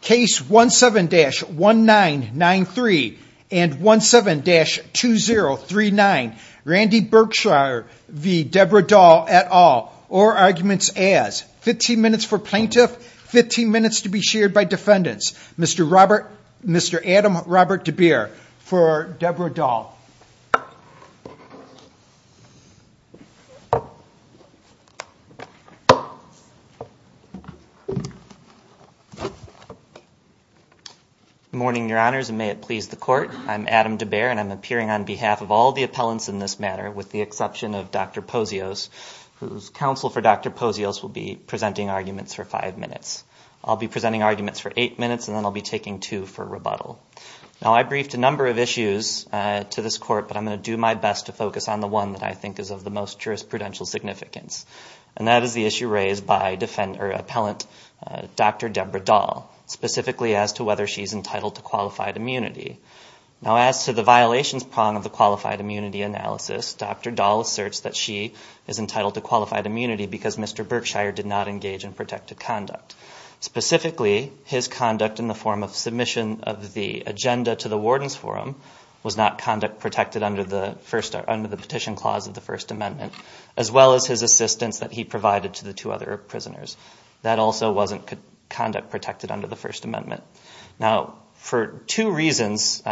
Case 17-1993 and 17-2039 Randy Berkshire v. Debra Dahl et al. Or arguments as 15 minutes for plaintiff, 15 minutes to be shared by defendants. Mr. Robert, Mr. Adam Robert DeBeer for Debra Dahl. Good morning, your honors, and may it please the court. I'm Adam DeBeer and I'm appearing on behalf of all the appellants in this matter with the exception of Dr. Posios, whose counsel for Dr. Posios will be presenting arguments for five minutes. I'll be presenting arguments for eight minutes and then I'll be taking two for rebuttal. Now, I briefed a number of issues to this court, but I'm going to do my best to focus on the one that I think is of the most jurisprudential significance. And that is the issue raised by defendant or appellant Dr. Debra Dahl, specifically as to whether she's entitled to qualified immunity. Now, as to the violations prong of the qualified immunity analysis, Dr. Dahl asserts that she is entitled to qualified immunity because Mr. Berkshire did not engage in protected conduct. Specifically, his conduct in the form of submission of the agenda to the warden's forum was not conduct protected under the petition clause of the First Amendment, as well as his assistance that he provided to the two other prisoners. That also wasn't conduct protected under the First Amendment. Now, for two reasons,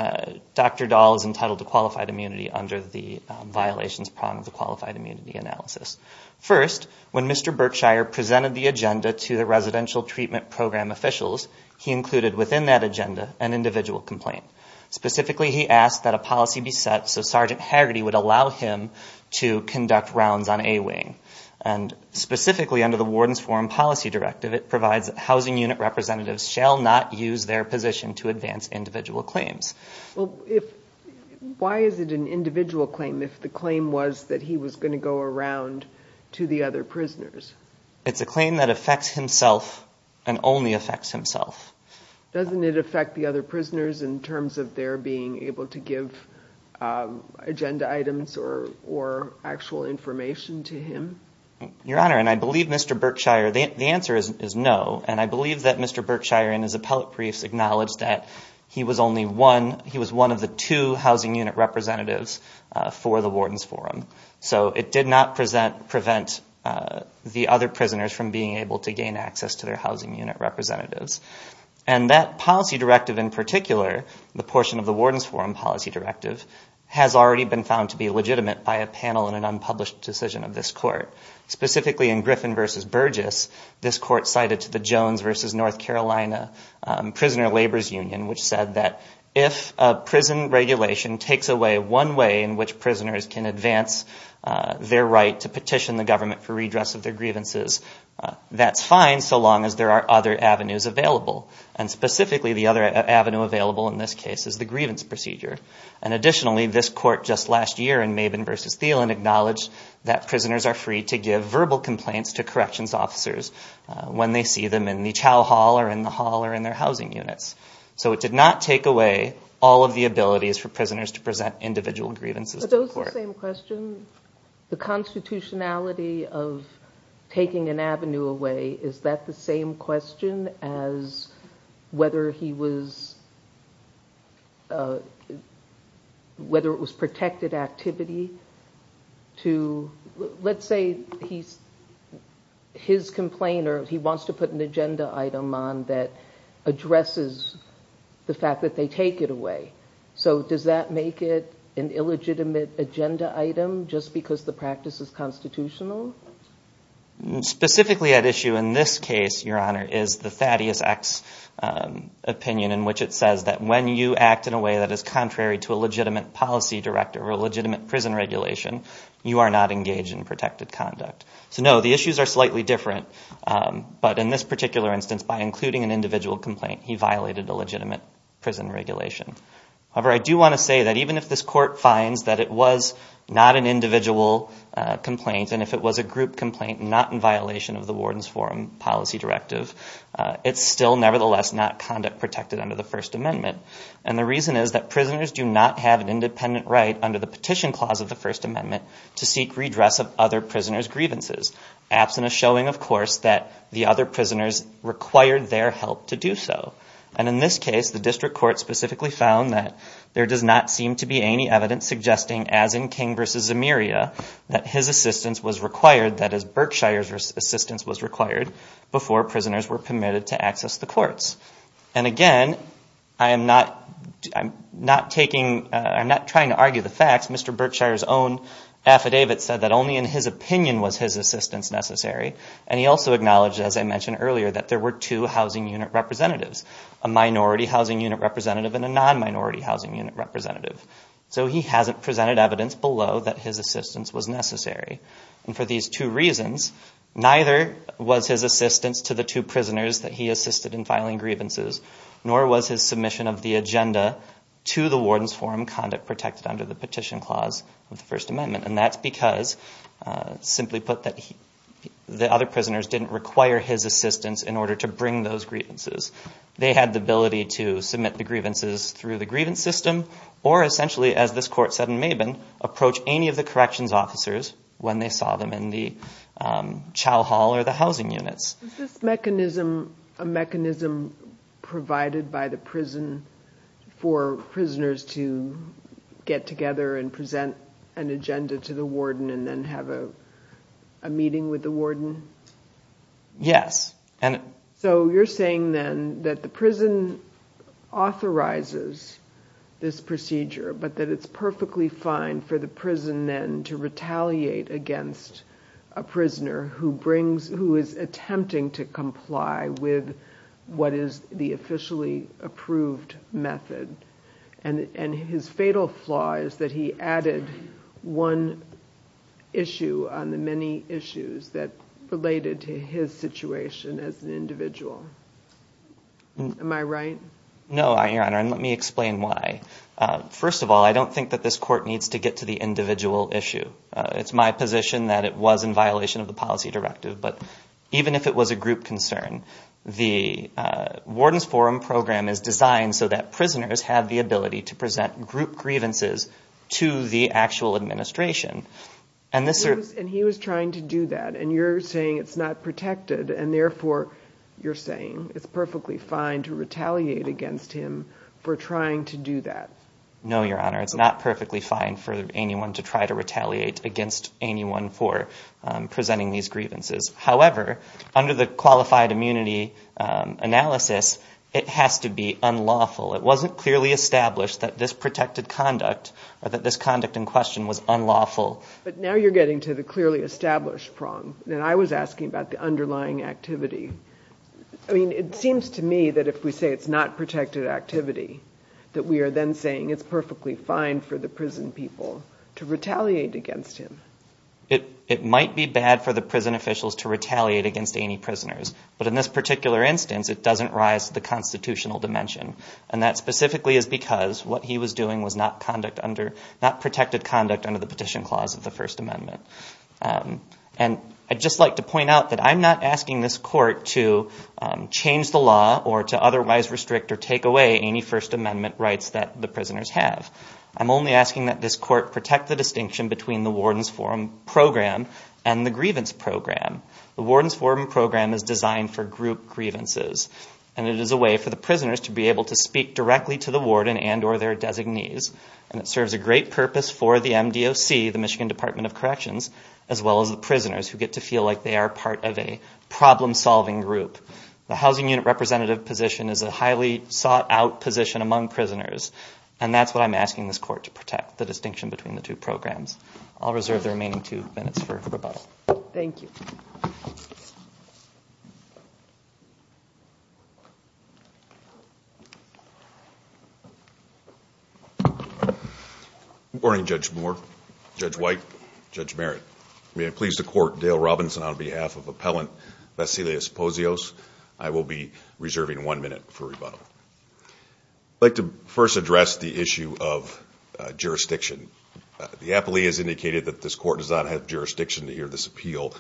Dr. Dahl is entitled to qualified immunity under the violations prong of the qualified immunity analysis. First, when Mr. Berkshire presented the agenda to the residential treatment program officials, he included within that agenda an individual complaint. Specifically, he asked that a policy be set so Sergeant Hagerty would allow him to conduct rounds on A-Wing. And specifically, under the warden's forum policy directive, it provides that housing unit representatives shall not use their position to advance individual claims. Why is it an individual claim if the claim was that he was going to go around to the other prisoners? It's a claim that affects himself and only affects himself. Doesn't it affect the other prisoners in terms of their being able to give agenda items or actual information to him? Your Honor, and I believe Mr. Berkshire, the answer is no. And I believe that Mr. Berkshire in his appellate briefs acknowledged that he was one of the two housing unit representatives for the warden's forum. So it did not prevent the other prisoners from being able to gain access to their housing unit representatives. And that policy directive in particular, the portion of the warden's forum policy directive, has already been found to be legitimate by a panel in an unpublished decision of this court. Specifically in Griffin v. Burgess, this court cited to the Jones v. North Carolina Prisoner Laborers Union, which said that if a prison regulation takes away one way in which prisoners can advance their right to petition the government for redress of their grievances, that's fine so long as there are other avenues available. And specifically, the other avenue available in this case is the grievance procedure. And additionally, this court just last year in Maben v. Thielen acknowledged that prisoners are free to give verbal complaints to corrections officers when they see them in the chow hall or in the hall or in their housing units. So it did not take away all of the abilities for prisoners to present individual grievances to the court. Is that the same question? The constitutionality of taking an avenue away, is that the same question as whether it was protected activity? Let's say his complainer, he wants to put an agenda item on that addresses the fact that they take it away. So does that make it an illegitimate agenda item just because the practice is constitutional? Specifically at issue in this case, Your Honor, is the Thaddeus X opinion in which it says that when you act in a way that is contrary to a legitimate policy director or a legitimate prison regulation, you are not engaged in protected conduct. So no, the issues are slightly different, but in this particular instance, by including an individual complaint, he violated a legitimate prison regulation. However, I do want to say that even if this court finds that it was not an individual complaint and if it was a group complaint, not in violation of the Warden's Forum policy directive, it's still nevertheless not conduct protected under the First Amendment. And the reason is that prisoners do not have an independent right under the petition clause of the First Amendment to seek redress of other prisoners' grievances, absent a showing, of course, that the other prisoners required their help to do so. And in this case, the district court specifically found that there does not seem to be any evidence suggesting, as in King v. Zemiria, that his assistance was required, that is, Berkshire's assistance was required, before prisoners were permitted to access the courts. And again, I am not trying to argue the facts. Mr. Berkshire's own affidavit said that only in his opinion was his assistance necessary. And he also acknowledged, as I mentioned earlier, that there were two housing unit representatives, a minority housing unit representative and a non-minority housing unit representative. So he hasn't presented evidence below that his assistance was necessary. And for these two reasons, neither was his assistance to the two prisoners that he assisted in filing grievances, nor was his submission of the agenda to the Warden's Forum conduct protected under the petition clause of the First Amendment. And that's because, simply put, the other prisoners didn't require his assistance in order to bring those grievances. They had the ability to submit the grievances through the grievance system, or essentially, as this court said in Mabin, approach any of the corrections officers when they saw them in the chow hall or the housing units. Does this mechanism, a mechanism provided by the prison for prisoners to get together and present an agenda to the warden and then have a meeting with the warden? Yes. So you're saying then that the prison authorizes this procedure, but that it's perfectly fine for the prison then to retaliate against a prisoner who is attempting to comply with what is the officially approved method. And his fatal flaw is that he added one issue on the many issues that related to his situation as an individual. Am I right? No, Your Honor, and let me explain why. First of all, I don't think that this court needs to get to the individual issue. It's my position that it was in violation of the policy directive, but even if it was a group concern, the Warden's Forum program is designed so that prisoners have the ability to present group grievances to the actual administration. And he was trying to do that, and you're saying it's not protected, and therefore, you're saying it's perfectly fine to retaliate against him for trying to do that. No, Your Honor, it's not perfectly fine for anyone to try to retaliate against anyone for presenting these grievances. However, under the qualified immunity analysis, it has to be unlawful. It wasn't clearly established that this protected conduct or that this conduct in question was unlawful. But now you're getting to the clearly established prong, and I was asking about the underlying activity. I mean, it seems to me that if we say it's not protected activity, that we are then saying it's perfectly fine for the prison people to retaliate against him. It might be bad for the prison officials to retaliate against any prisoners, but in this particular instance, it doesn't rise to the constitutional dimension, and that specifically is because what he was doing was not protected conduct under the Petition Clause of the First Amendment. And I'd just like to point out that I'm not asking this court to change the law or to otherwise restrict or take away any First Amendment rights that the prisoners have. I'm only asking that this court protect the distinction between the Warden's Forum Program and the Grievance Program. The Warden's Forum Program is designed for group grievances, and it is a way for the prisoners to be able to speak directly to the warden and or their designees. And it serves a great purpose for the MDOC, the Michigan Department of Corrections, as well as the prisoners who get to feel like they are part of a problem-solving group. The housing unit representative position is a highly sought-out position among prisoners, and that's what I'm asking this court to protect, the distinction between the two programs. I'll reserve the remaining two minutes for rebuttal. Good morning, Judge Moore, Judge White, and Judge Merritt. May I please the court, Dale Robinson, on behalf of Appellant Vassilios Posios. I will be reserving one minute for rebuttal. I'd like to first address the issue of jurisdiction. The appellee has indicated that this court does not have jurisdiction to hear this appeal.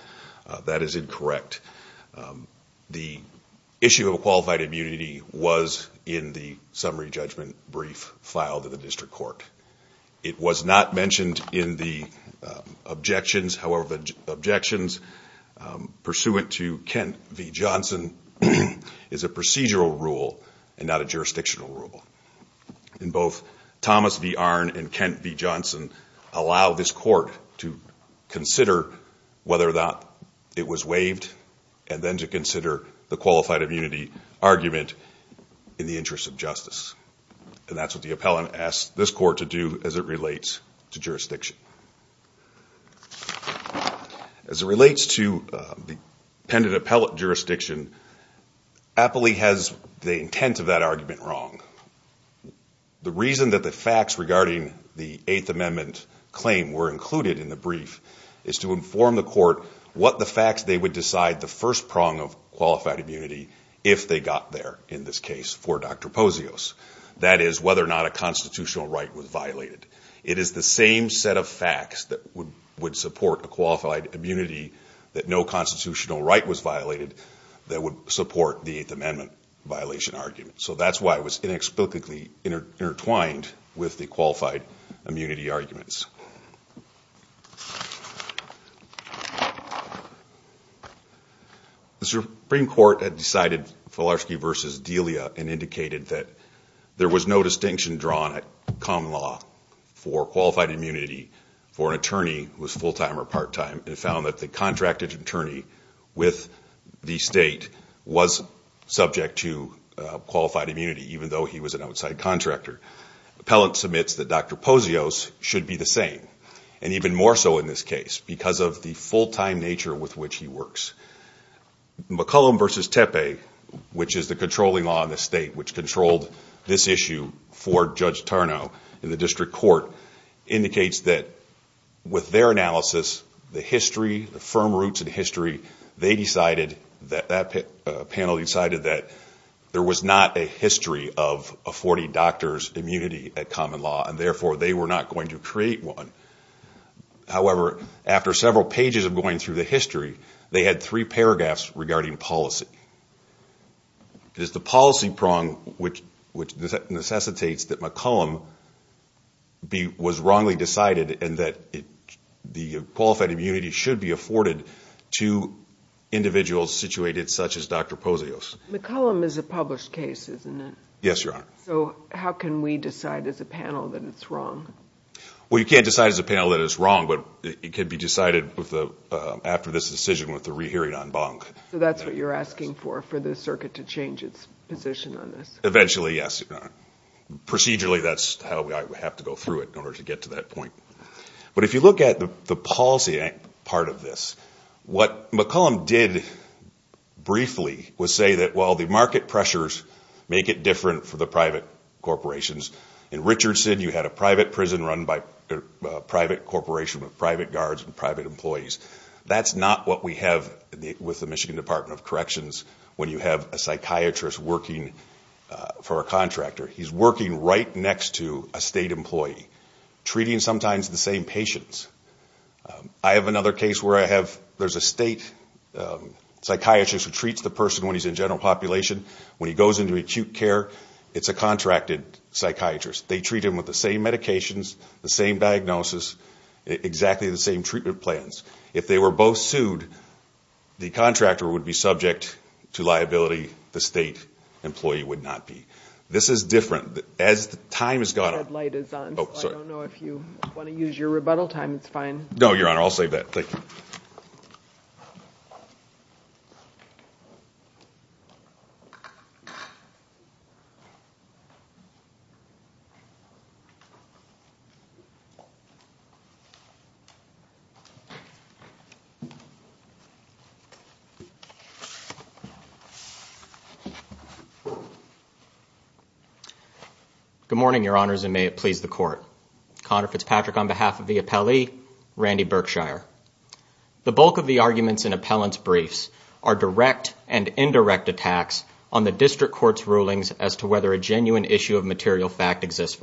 That is incorrect. The issue of qualified immunity was in the summary judgment brief filed in the district court. It was not mentioned in the objections. However, the objections pursuant to Kent v. Johnson is a procedural rule and not a jurisdictional rule. And both Thomas v. Arnn and Kent v. Johnson allow this court to consider whether or not it was waived. And then to consider the qualified immunity argument in the interest of justice. And that's what the appellant asked this court to do as it relates to jurisdiction. As it relates to the appellate jurisdiction, appellee has the intent of that argument wrong. The reason that the facts regarding the Eighth Amendment claim were included in the brief is to inform the court what the facts they would decide the facts were. And that would be the first prong of qualified immunity if they got there in this case for Dr. Posios. That is whether or not a constitutional right was violated. It is the same set of facts that would support a qualified immunity that no constitutional right was violated that would support the Eighth Amendment violation argument. So that's why it was inexplicably intertwined with the qualified immunity arguments. The Supreme Court had decided Filarski v. Delia and indicated that there was no distinction drawn at common law for qualified immunity for an attorney who was full-time or part-time. It found that the contracted attorney with the state was subject to qualified immunity even though he was an outside contractor. Appellant submits that Dr. Posios should be the same. And even more so in this case because of the full-time nature with which he works. McCollum v. Tepe, which is the controlling law in the state which controlled this issue for Judge Tarnow in the district court, indicates that with their analysis, the history, the firm roots in history, they decided that that panel decided that there was not a history of a 40 doctors immunity at common law. And therefore, they were not going to create one. However, after several pages of going through the history, they had three paragraphs regarding policy. It is the policy prong which necessitates that McCollum was wrongly decided and that the qualified immunity should be afforded to individuals situated such as Dr. Posios. McCollum is a published case, isn't it? Yes, Your Honor. So how can we decide as a panel that it's wrong? Well, you can't decide as a panel that it's wrong, but it can be decided after this decision with the re-hearing on Bonk. So that's what you're asking for, for the circuit to change its position on this? Eventually, yes. Procedurally, that's how we have to go through it in order to get to that point. But if you look at the policy part of this, what McCollum did briefly was say that, well, the market pressures make it different for the private corporations. In Richardson, you had a private prison run by a private corporation with private guards and private employees. That's not what we have with the Michigan Department of Corrections when you have a psychiatrist working for a contractor. He's working right next to a state employee, treating sometimes the same patients. I have another case where there's a state psychiatrist who treats the person when he's in general population. When he goes into acute care, it's a contracted psychiatrist. They treat him with the same medications, the same diagnosis, exactly the same treatment plans. If they were both sued, the contractor would be subject to liability. The state employee would not be. This is different. As time has gone on... The red light is on, so I don't know if you want to use your rebuttal time. It's fine. No, Your Honor. I'll save that. Thank you. Good morning, Your Honors, and may it please the Court. Connor Fitzpatrick on behalf of the appellee, Randy Berkshire. The bulk of the arguments in appellant's briefs are direct and indirect attacks on the district court's rulings as to whether a genuine issue of material fact exists.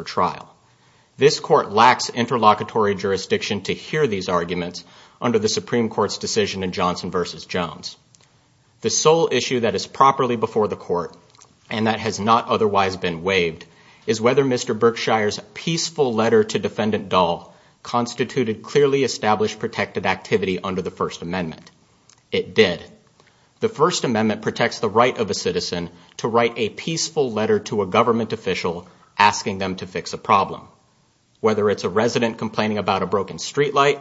This Court lacks interlocutory jurisdiction to hear these arguments under the Supreme Court's decision in Johnson v. Jones. The sole issue that is properly before the Court, and that has not otherwise been waived, is whether Mr. Berkshire's peaceful letter to Defendant Dahl constituted clearly established protected activity under the First Amendment. It did. The First Amendment protects the right of a citizen to write a peaceful letter to a government official, asking them to fix a problem. Whether it's a resident complaining about a broken streetlight,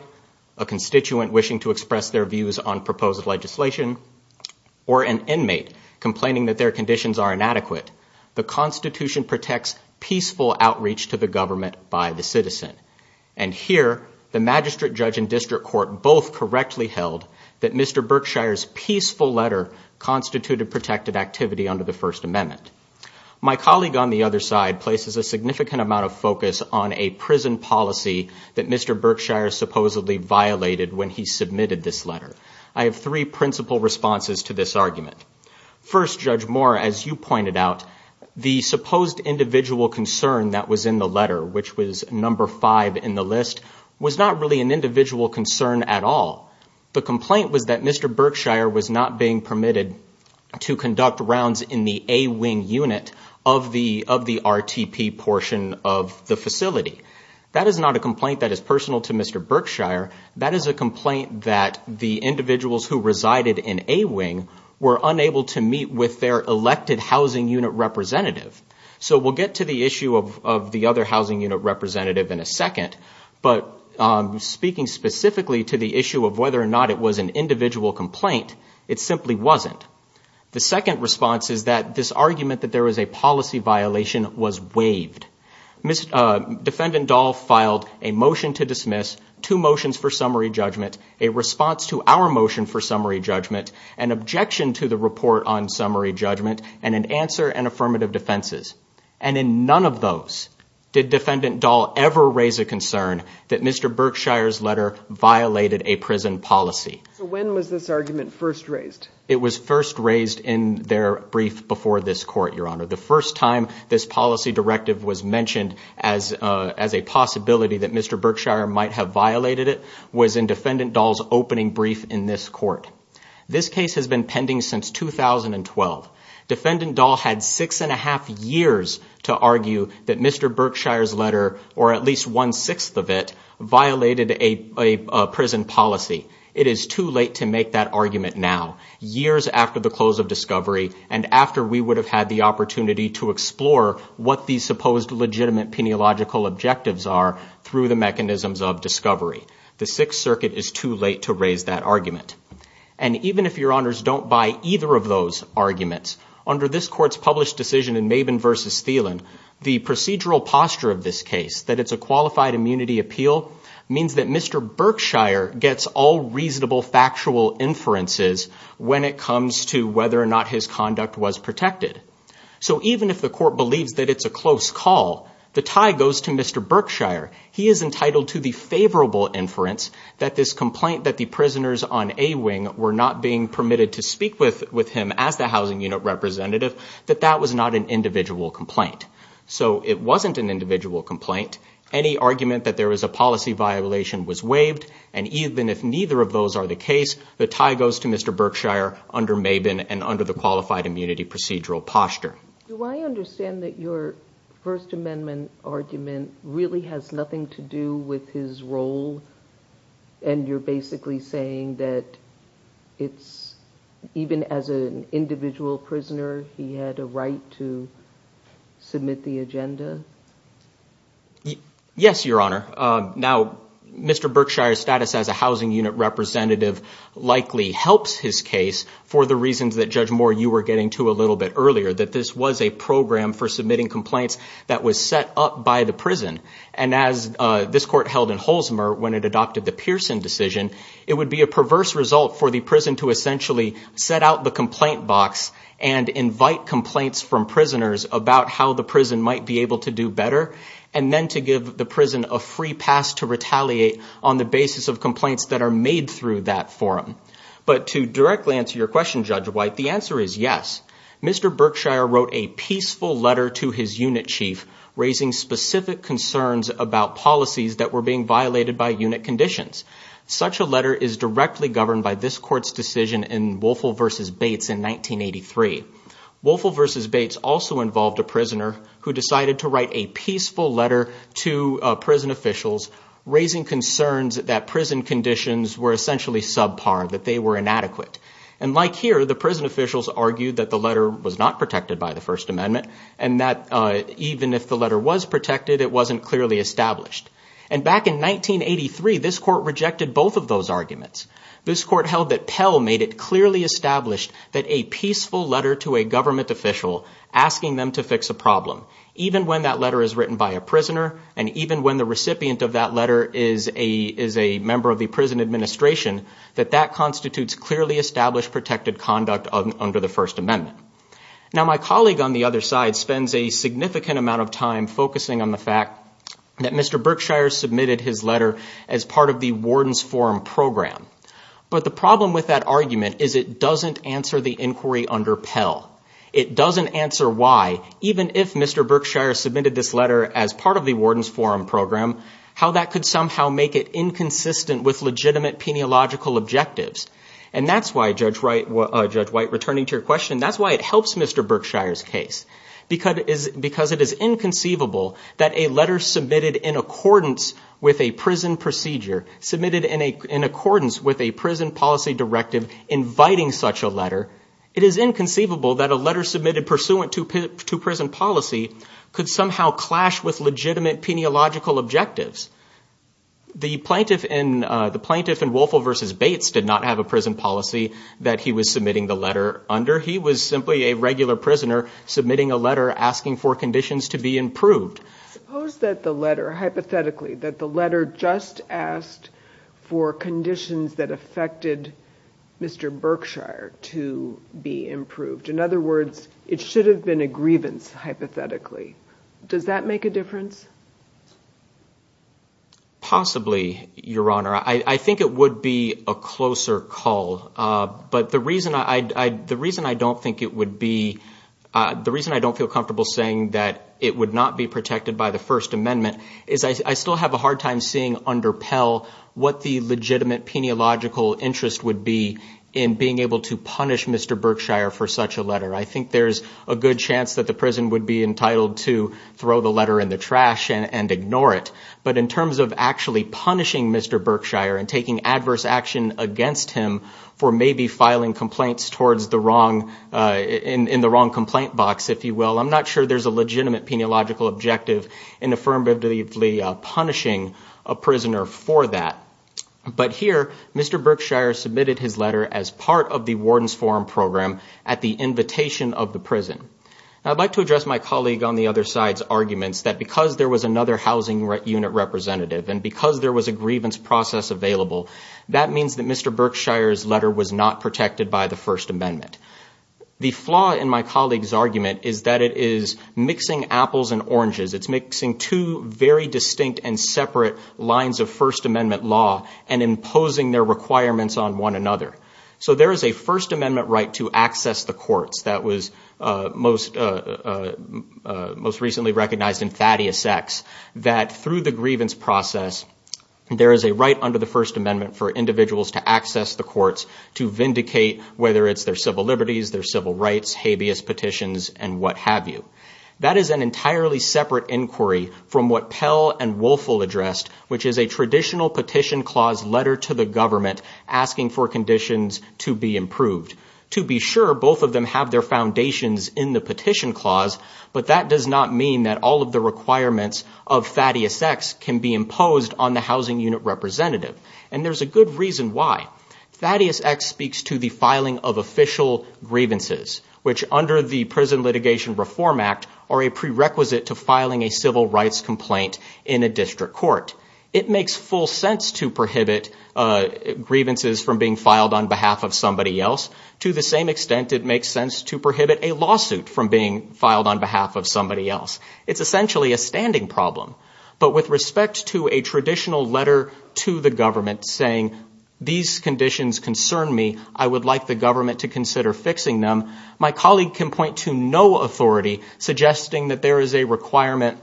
a constituent wishing to express their views on proposed legislation, or an inmate complaining that their conditions are inadequate, the Constitution protects peaceful outreach to the government by the citizen. And here, the magistrate judge and district court both correctly held that Mr. Berkshire's peaceful letter constituted protected activity under the First Amendment. My colleague on the other side places a significant amount of focus on a prison policy that Mr. Berkshire supposedly violated when he submitted this letter. I have three principal responses to this argument. First, Judge Moore, as you pointed out, the supposed individual concern that was in the letter, which was number five in the list, was not really an individual concern at all. The complaint was that Mr. Berkshire was not being permitted to conduct rounds in the A-Wing unit of the RTP portion of the facility. That is not a complaint that is personal to Mr. Berkshire. That is a complaint that the individuals who resided in A-Wing were unable to meet with their elected housing unit representative. So we'll get to the issue of the other housing unit representative in a second. But speaking specifically to the issue of whether or not it was an individual complaint, it simply wasn't. The second response is that this argument that there was a policy violation was waived. Defendant Dahl filed a motion to dismiss, two motions for summary judgment, a response to our motion for summary judgment, an objection to the report on summary judgment, and an answer and affirmative defenses. And in none of those did Defendant Dahl ever raise a concern that Mr. Berkshire's letter violated a prison policy. So when was this argument first raised? It was first raised in their brief before this court, Your Honor. The first time this policy directive was mentioned as a possibility that Mr. Berkshire might have violated it was in Defendant Dahl's opening brief in this court. This case has been pending since 2012. Defendant Dahl had six and a half years to argue that Mr. Berkshire's letter, or at least one-sixth of it, violated a prison policy. It is too late to make that argument now, years after the close of discovery and after we would have had the opportunity to explore what these supposed legitimate peniological objectives are through the mechanisms of discovery. The Sixth Circuit is too late to raise that argument. And even if Your Honors don't buy either of those arguments, under this court's published decision in Maben v. Thielen, the procedural posture of this case, that it's a qualified immunity appeal, means that Mr. Berkshire gets all reasonable factual inferences when it comes to whether or not his conduct was protected. So even if the court believes that it's a close call, the tie goes to Mr. Berkshire. He is entitled to the favorable inference that this complaint that the prisoners on A-Wing were not being permitted to speak with him as the housing unit representative, that that was not an individual complaint. So it wasn't an individual complaint. Any argument that there was a policy violation was waived, and even if neither of those are the case, the tie goes to Mr. Berkshire under Maben and under the qualified immunity procedural posture. Do I understand that your First Amendment argument really has nothing to do with his role? And you're basically saying that even as an individual prisoner, he had a right to submit the agenda? Yes, Your Honor. Now, Mr. Berkshire's status as a housing unit representative likely helps his case for the reasons that, Judge Moore, you were getting to a little bit earlier. That this was a program for submitting complaints that was set up by the prison. And as this court held in Holzmer when it adopted the Pearson decision, it would be a perverse result for the prison to essentially set out the complaint box and invite complaints from prisoners about how the prison might be able to submit the agenda. And then to give the prison a free pass to retaliate on the basis of complaints that are made through that forum. But to directly answer your question, Judge White, the answer is yes. Mr. Berkshire wrote a peaceful letter to his unit chief, raising specific concerns about policies that were being violated by unit conditions. Such a letter is directly governed by this court's decision in Woelfel v. Bates in 1983. Woelfel v. Bates also involved a prisoner who decided to write a peaceful letter to prison officials, raising concerns that prison conditions were essentially subpar, that they were inadequate. And like here, the prison officials argued that the letter was not protected by the First Amendment and that even if the letter was protected, it wasn't clearly established. And back in 1983, this court rejected both of those arguments. This court held that Pell made it clearly established that a peaceful letter to a government official asking them to fix a problem, even when that letter is written by a prisoner and even when the recipient of that letter is a member of the prison administration, that that constitutes clearly established protected conduct under the First Amendment. Now, my colleague on the other side spends a significant amount of time focusing on the fact that Mr. Berkshire submitted his letter as part of the Warden's Forum program. But the problem with that argument is it doesn't answer the inquiry under Pell. It doesn't answer why, even if Mr. Berkshire submitted this letter as part of the Warden's Forum program, how that could somehow make it inconsistent with legitimate peniological objectives. And that's why, Judge White, returning to your question, that's why it helps Mr. Berkshire's case. Because it is inconceivable that a letter submitted in accordance with a prison procedure, submitted in accordance with a prison policy directive inviting such a letter, it is inconceivable that a letter submitted pursuant to prison policy could somehow clash with legitimate peniological objectives. The plaintiff in Woelfel v. Bates did not have a prison policy that he was submitting the letter under. He was simply a regular prisoner submitting a letter asking for conditions to be improved. Suppose that the letter, hypothetically, that the letter just asked for conditions that affected Mr. Berkshire to be improved. In other words, it should have been a grievance, hypothetically. Does that make a difference? Possibly, Your Honor. I think it would be a closer call. But the reason I don't feel comfortable saying that it would not be protected by the First Amendment is I still have a hard time seeing under Pell what the legitimate peniological interest would be in being able to punish Mr. Berkshire for such a letter. I think there's a good chance that the prison would be entitled to throw the letter in the trash and ignore it. But in terms of actually punishing Mr. Berkshire and taking adverse action against him for maybe filing complaints in the wrong complaint box, if you will, I'm not sure there's a legitimate peniological objective in affirmatively punishing a prisoner for that. But here, Mr. Berkshire submitted his letter as part of the Warden's Forum program at the invitation of the prison. I'd like to address my colleague on the other side's arguments that because there was another housing unit representative and because there was a grievance process available, that means that Mr. Berkshire's letter was not protected by the First Amendment. The flaw in my colleague's argument is that it is mixing apples and oranges. It's mixing two very distinct and separate lines of First Amendment law and imposing their requirements on one another. So there is a First Amendment right to access the courts. That was most recently recognized in Thaddeus X, that through the grievance process, there is a right under the First Amendment for individuals to access the courts to vindicate whether it's their civil liberties, their civil rights, habeas petitions, and what have you. That is an entirely separate inquiry from what Pell and Woelfel addressed, which is a traditional petition clause letter to the government asking for conditions to be met. It's asking for conditions to be improved. To be sure, both of them have their foundations in the petition clause, but that does not mean that all of the requirements of Thaddeus X can be imposed on the housing unit representative. And there's a good reason why. Thaddeus X speaks to the filing of official grievances, which under the Prison Litigation Reform Act are a prerequisite to filing a civil rights complaint in a district court. It makes full sense to prohibit grievances from being filed on behalf of somebody else. To the same extent, it makes sense to prohibit a lawsuit from being filed on behalf of somebody else. It's essentially a standing problem. But with respect to a traditional letter to the government saying, these conditions concern me. I would like the government to consider fixing them, my colleague can point to no authority suggesting that there is a requirement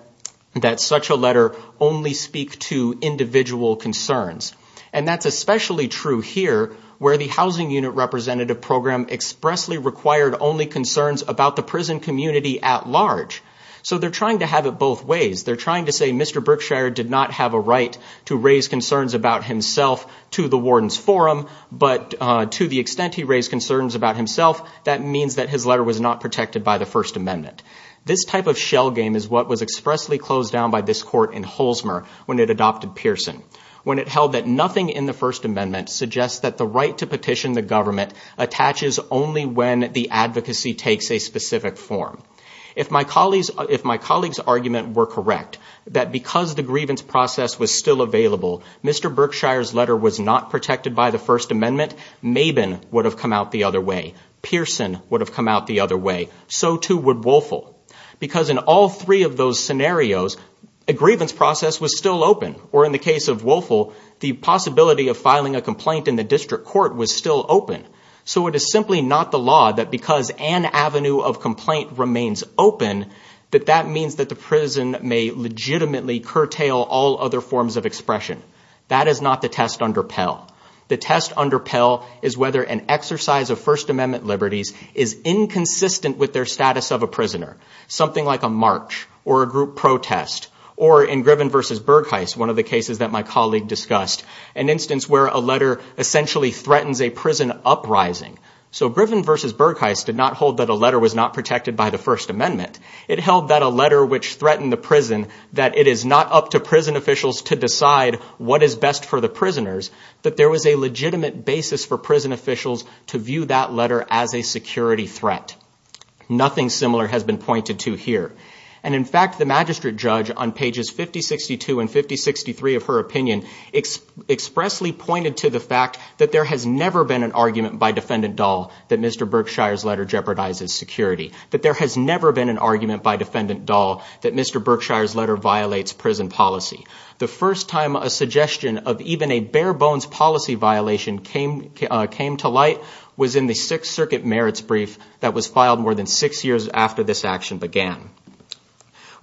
that such a letter only speak to individual concerns. And that's especially true here, where the housing unit representative program expressly required only concerns about the prison community at large. So they're trying to have it both ways. They're trying to say Mr. Brickshire did not have a right to raise concerns about himself to the warden's forum. But to the extent he raised concerns about himself, that means that his letter was not protected by the First Amendment. This type of shell game is what was expressly closed down by this court in Holzmer when it adopted Pearson. When it held that nothing in the First Amendment suggests that the right to petition the government attaches only when the advocacy takes a specific form. If my colleague's argument were correct, that because the grievance process was still available, Mr. Brickshire's letter was not protected by the First Amendment, Mabin would have come out the other way. Pearson would have come out the other way. So too would Woelfel. Because in all three of those scenarios, a grievance process was still open. Or in the case of Woelfel, the possibility of filing a complaint in the district court was still open. So it is simply not the law that because an avenue of complaint remains open, that that means that the prison may legitimately curtail all other forms of expression. That is not the test under Pell. The test under Pell is whether an exercise of First Amendment liberties is inconsistent with their status of a prisoner. Something like a march or a group protest or in Griven versus Bergheist, one of the cases that my colleague discussed, an instance where a letter essentially threatens a prison uprising. So Griven versus Bergheist did not hold that a letter was not protected by the First Amendment. It held that a letter which threatened the prison, that it is not up to prison officials to decide what is best for the prisoners, that there was a legitimate basis for prison officials to view that letter as a security threat. Nothing similar has been pointed to here. And in fact, the magistrate judge on pages 5062 and 5063 of her opinion, expressly pointed to the fact that there has never been an argument by Defendant Dahl that Mr. Berkshire's letter jeopardizes security. That there has never been an argument by Defendant Dahl that Mr. Berkshire's letter violates prison policy. The first time a suggestion of even a bare bones policy violation came to light was in the Sixth Circuit merits brief that was filed more than six years after this action began.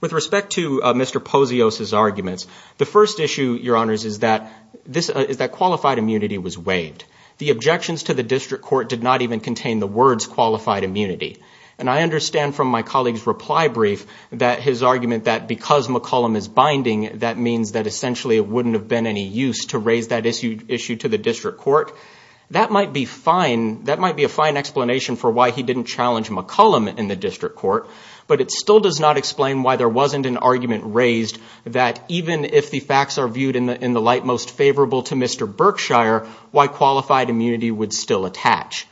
With respect to Mr. Posios' arguments, the first issue, Your Honors, is that qualified immunity was waived. The objections to the district court did not even contain the words qualified immunity. And I understand from my colleague's reply brief that his argument that because McCollum is binding, that means that essentially it wouldn't have been any use to raise that issue to the district court. That might be fine. That might be a fine explanation for why he didn't challenge McCollum in the district court. But it still does not explain why there wasn't an argument raised that even if the facts are viewed in the light most favorable to Mr. Berkshire, why qualified immunity would still attach.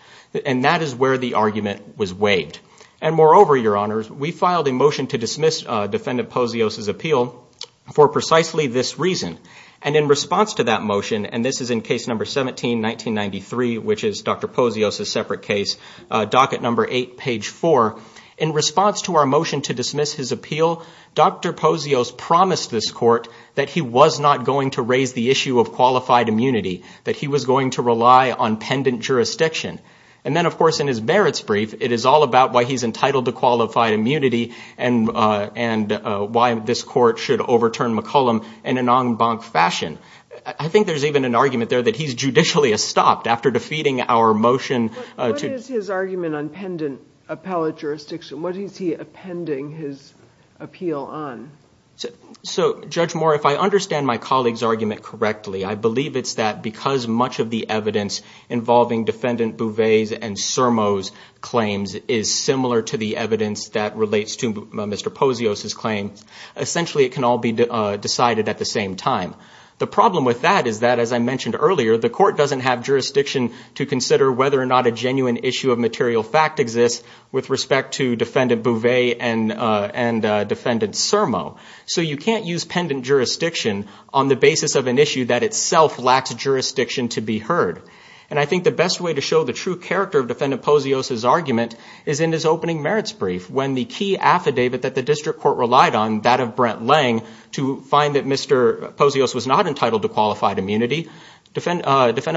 And that is where the argument was waived. And moreover, Your Honors, we filed a motion to dismiss Defendant Posios' appeal for precisely this reason. And in response to that motion, and this is in case number 17, 1993, which is Dr. Posios' separate case, docket number eight, page four, in response to our motion to dismiss his appeal, Dr. Posios promised this court that he was not going to raise the issue of qualified immunity, that he was going to rely on pendant jurisdiction. And then, of course, in his merits brief, it is all about why he's entitled to qualified immunity and why this court should overturn McCollum in an en banc fashion. I think there's even an argument there that he's judicially estopped after defeating our motion. What is his argument on pendant appellate jurisdiction? What is he appending his appeal on? So, Judge Moore, if I understand my colleague's argument correctly, I believe it's that because much of the evidence involving Defendant Bouvet's and Surmo's claims is similar to the evidence that relates to Mr. Posios' claim, essentially it can all be decided at the same time. The problem with that is that, as I mentioned earlier, the court doesn't have jurisdiction to consider whether or not a genuine issue of material fact exists with respect to Defendant Bouvet and Defendant Surmo. So you can't use pendant jurisdiction on the basis of an issue that itself lacks jurisdiction to be heard. And I think the best way to show the true character of Defendant Posios' argument is in his opening merits brief, when the key affidavit that the district court relied on, that of Brent Lange, to find that Mr. Posios was not entitled to qualified immunity, Defendant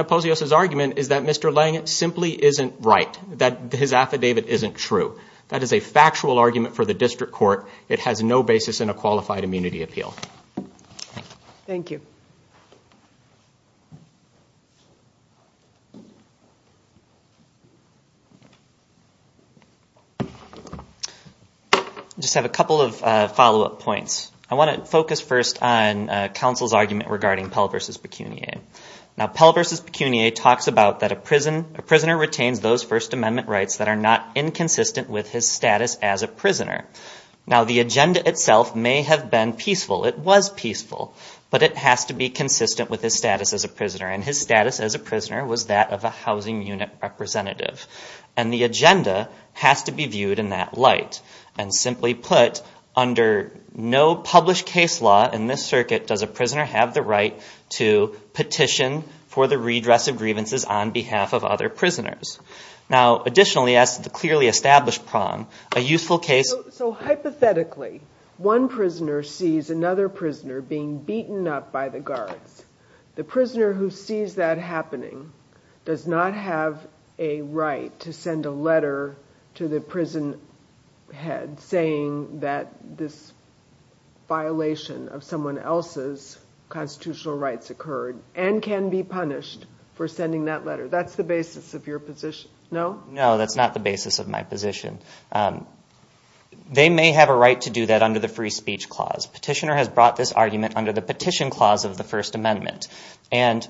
Posios' argument is that Mr. Lange simply isn't right, that his affidavit isn't true. That is a factual argument for the district court. It has no basis in a qualified immunity appeal. Thank you. I just have a couple of follow-up points. I want to focus first on counsel's argument regarding Pell v. Pecuniae. Now Pell v. Pecuniae talks about that a prisoner retains those First Amendment rights that are not inconsistent with his status as a prisoner. Now the agenda itself may have been peaceful, it was peaceful, but it has to be consistent with his status as a prisoner. And his status as a prisoner was that of a housing unit representative. And the agenda has to be viewed in that light. And simply put, under no published case law in this circuit does a prisoner have the right to petition for the redress of grievances on behalf of other prisoners. Now additionally, as to the clearly established prong, a youthful case... So hypothetically, one prisoner sees another prisoner being beaten up by the guards. The prisoner who sees that happening does not have a right to send a letter to the prison head saying that this violation of someone else's constitutional rights occurred, and can be punished for sending that letter. That's the basis of your position, no? No, that's not the basis of my position. They may have a right to do that under the free speech clause. Petitioner has brought this argument under the petition clause of the First Amendment. And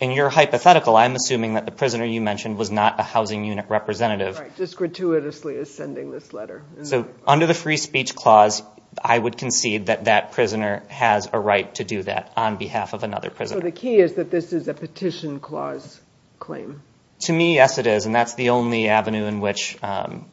in your hypothetical, I'm assuming that the prisoner you mentioned was not a housing unit representative. Right, just gratuitously is sending this letter. So under the free speech clause, I would concede that that prisoner has a right to do that on behalf of another prisoner. So the key is that this is a petition clause claim? To me, yes it is, and that's the only avenue in which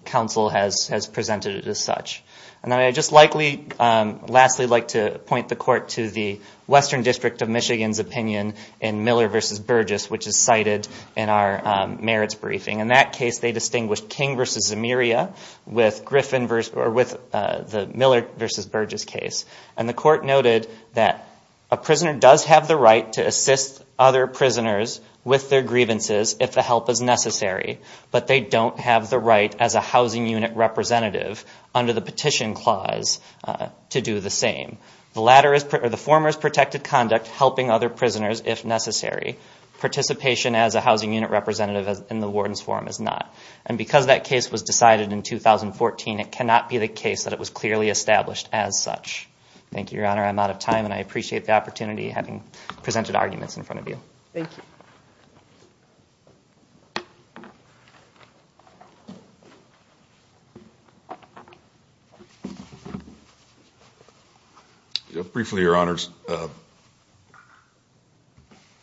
counsel has presented it as such. And I would just lastly like to point the court to the Western District of Michigan's opinion in Miller v. Burgess, which is cited in our merits briefing. In that case, they distinguished King v. Zemiria with the Miller v. Burgess case. And the court noted that a prisoner does have the right to assist other prisoners with their grievances if the help is necessary, but they don't have the right as a housing unit representative under the petition clause. To do the same. The former has protected conduct helping other prisoners if necessary. Participation as a housing unit representative in the warden's forum is not. And because that case was decided in 2014, it cannot be the case that it was clearly established as such. Thank you, Your Honor. I'm out of time, and I appreciate the opportunity of having presented arguments in front of you. Briefly, Your Honors,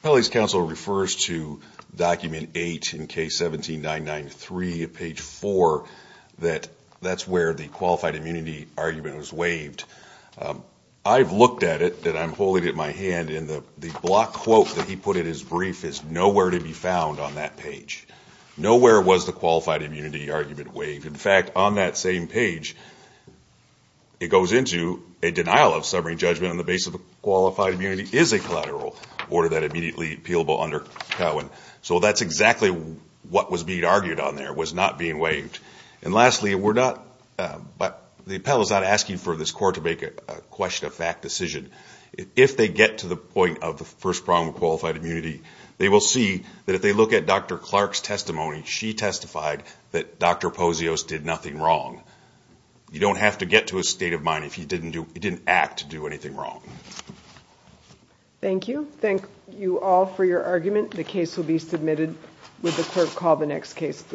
Pele's counsel refers to document 8 in case 17993, page 4, that that's where the qualified immunity argument was waived. I've looked at it, and I'm holding it in my hand, and the block quote that he put in his brief is nowhere to be found on that page. Nowhere was the qualified immunity argument waived. In fact, on that same page, it goes into a denial of summary judgment on the basis of qualified immunity is a collateral order that immediately appealable under Cowen. So that's exactly what was being argued on there, was not being waived. And lastly, we're not, but the appellate is not asking for this court to make a question of fact decision. If they get to the point of the first problem of qualified immunity, they will see that if they look at Dr. Clark's testimony, she testified that Dr. Posios did nothing wrong. You don't have to get to a state of mind if he didn't act to do anything wrong. Thank you. Thank you all for your argument. The case will be submitted. Would the clerk call the next case, please?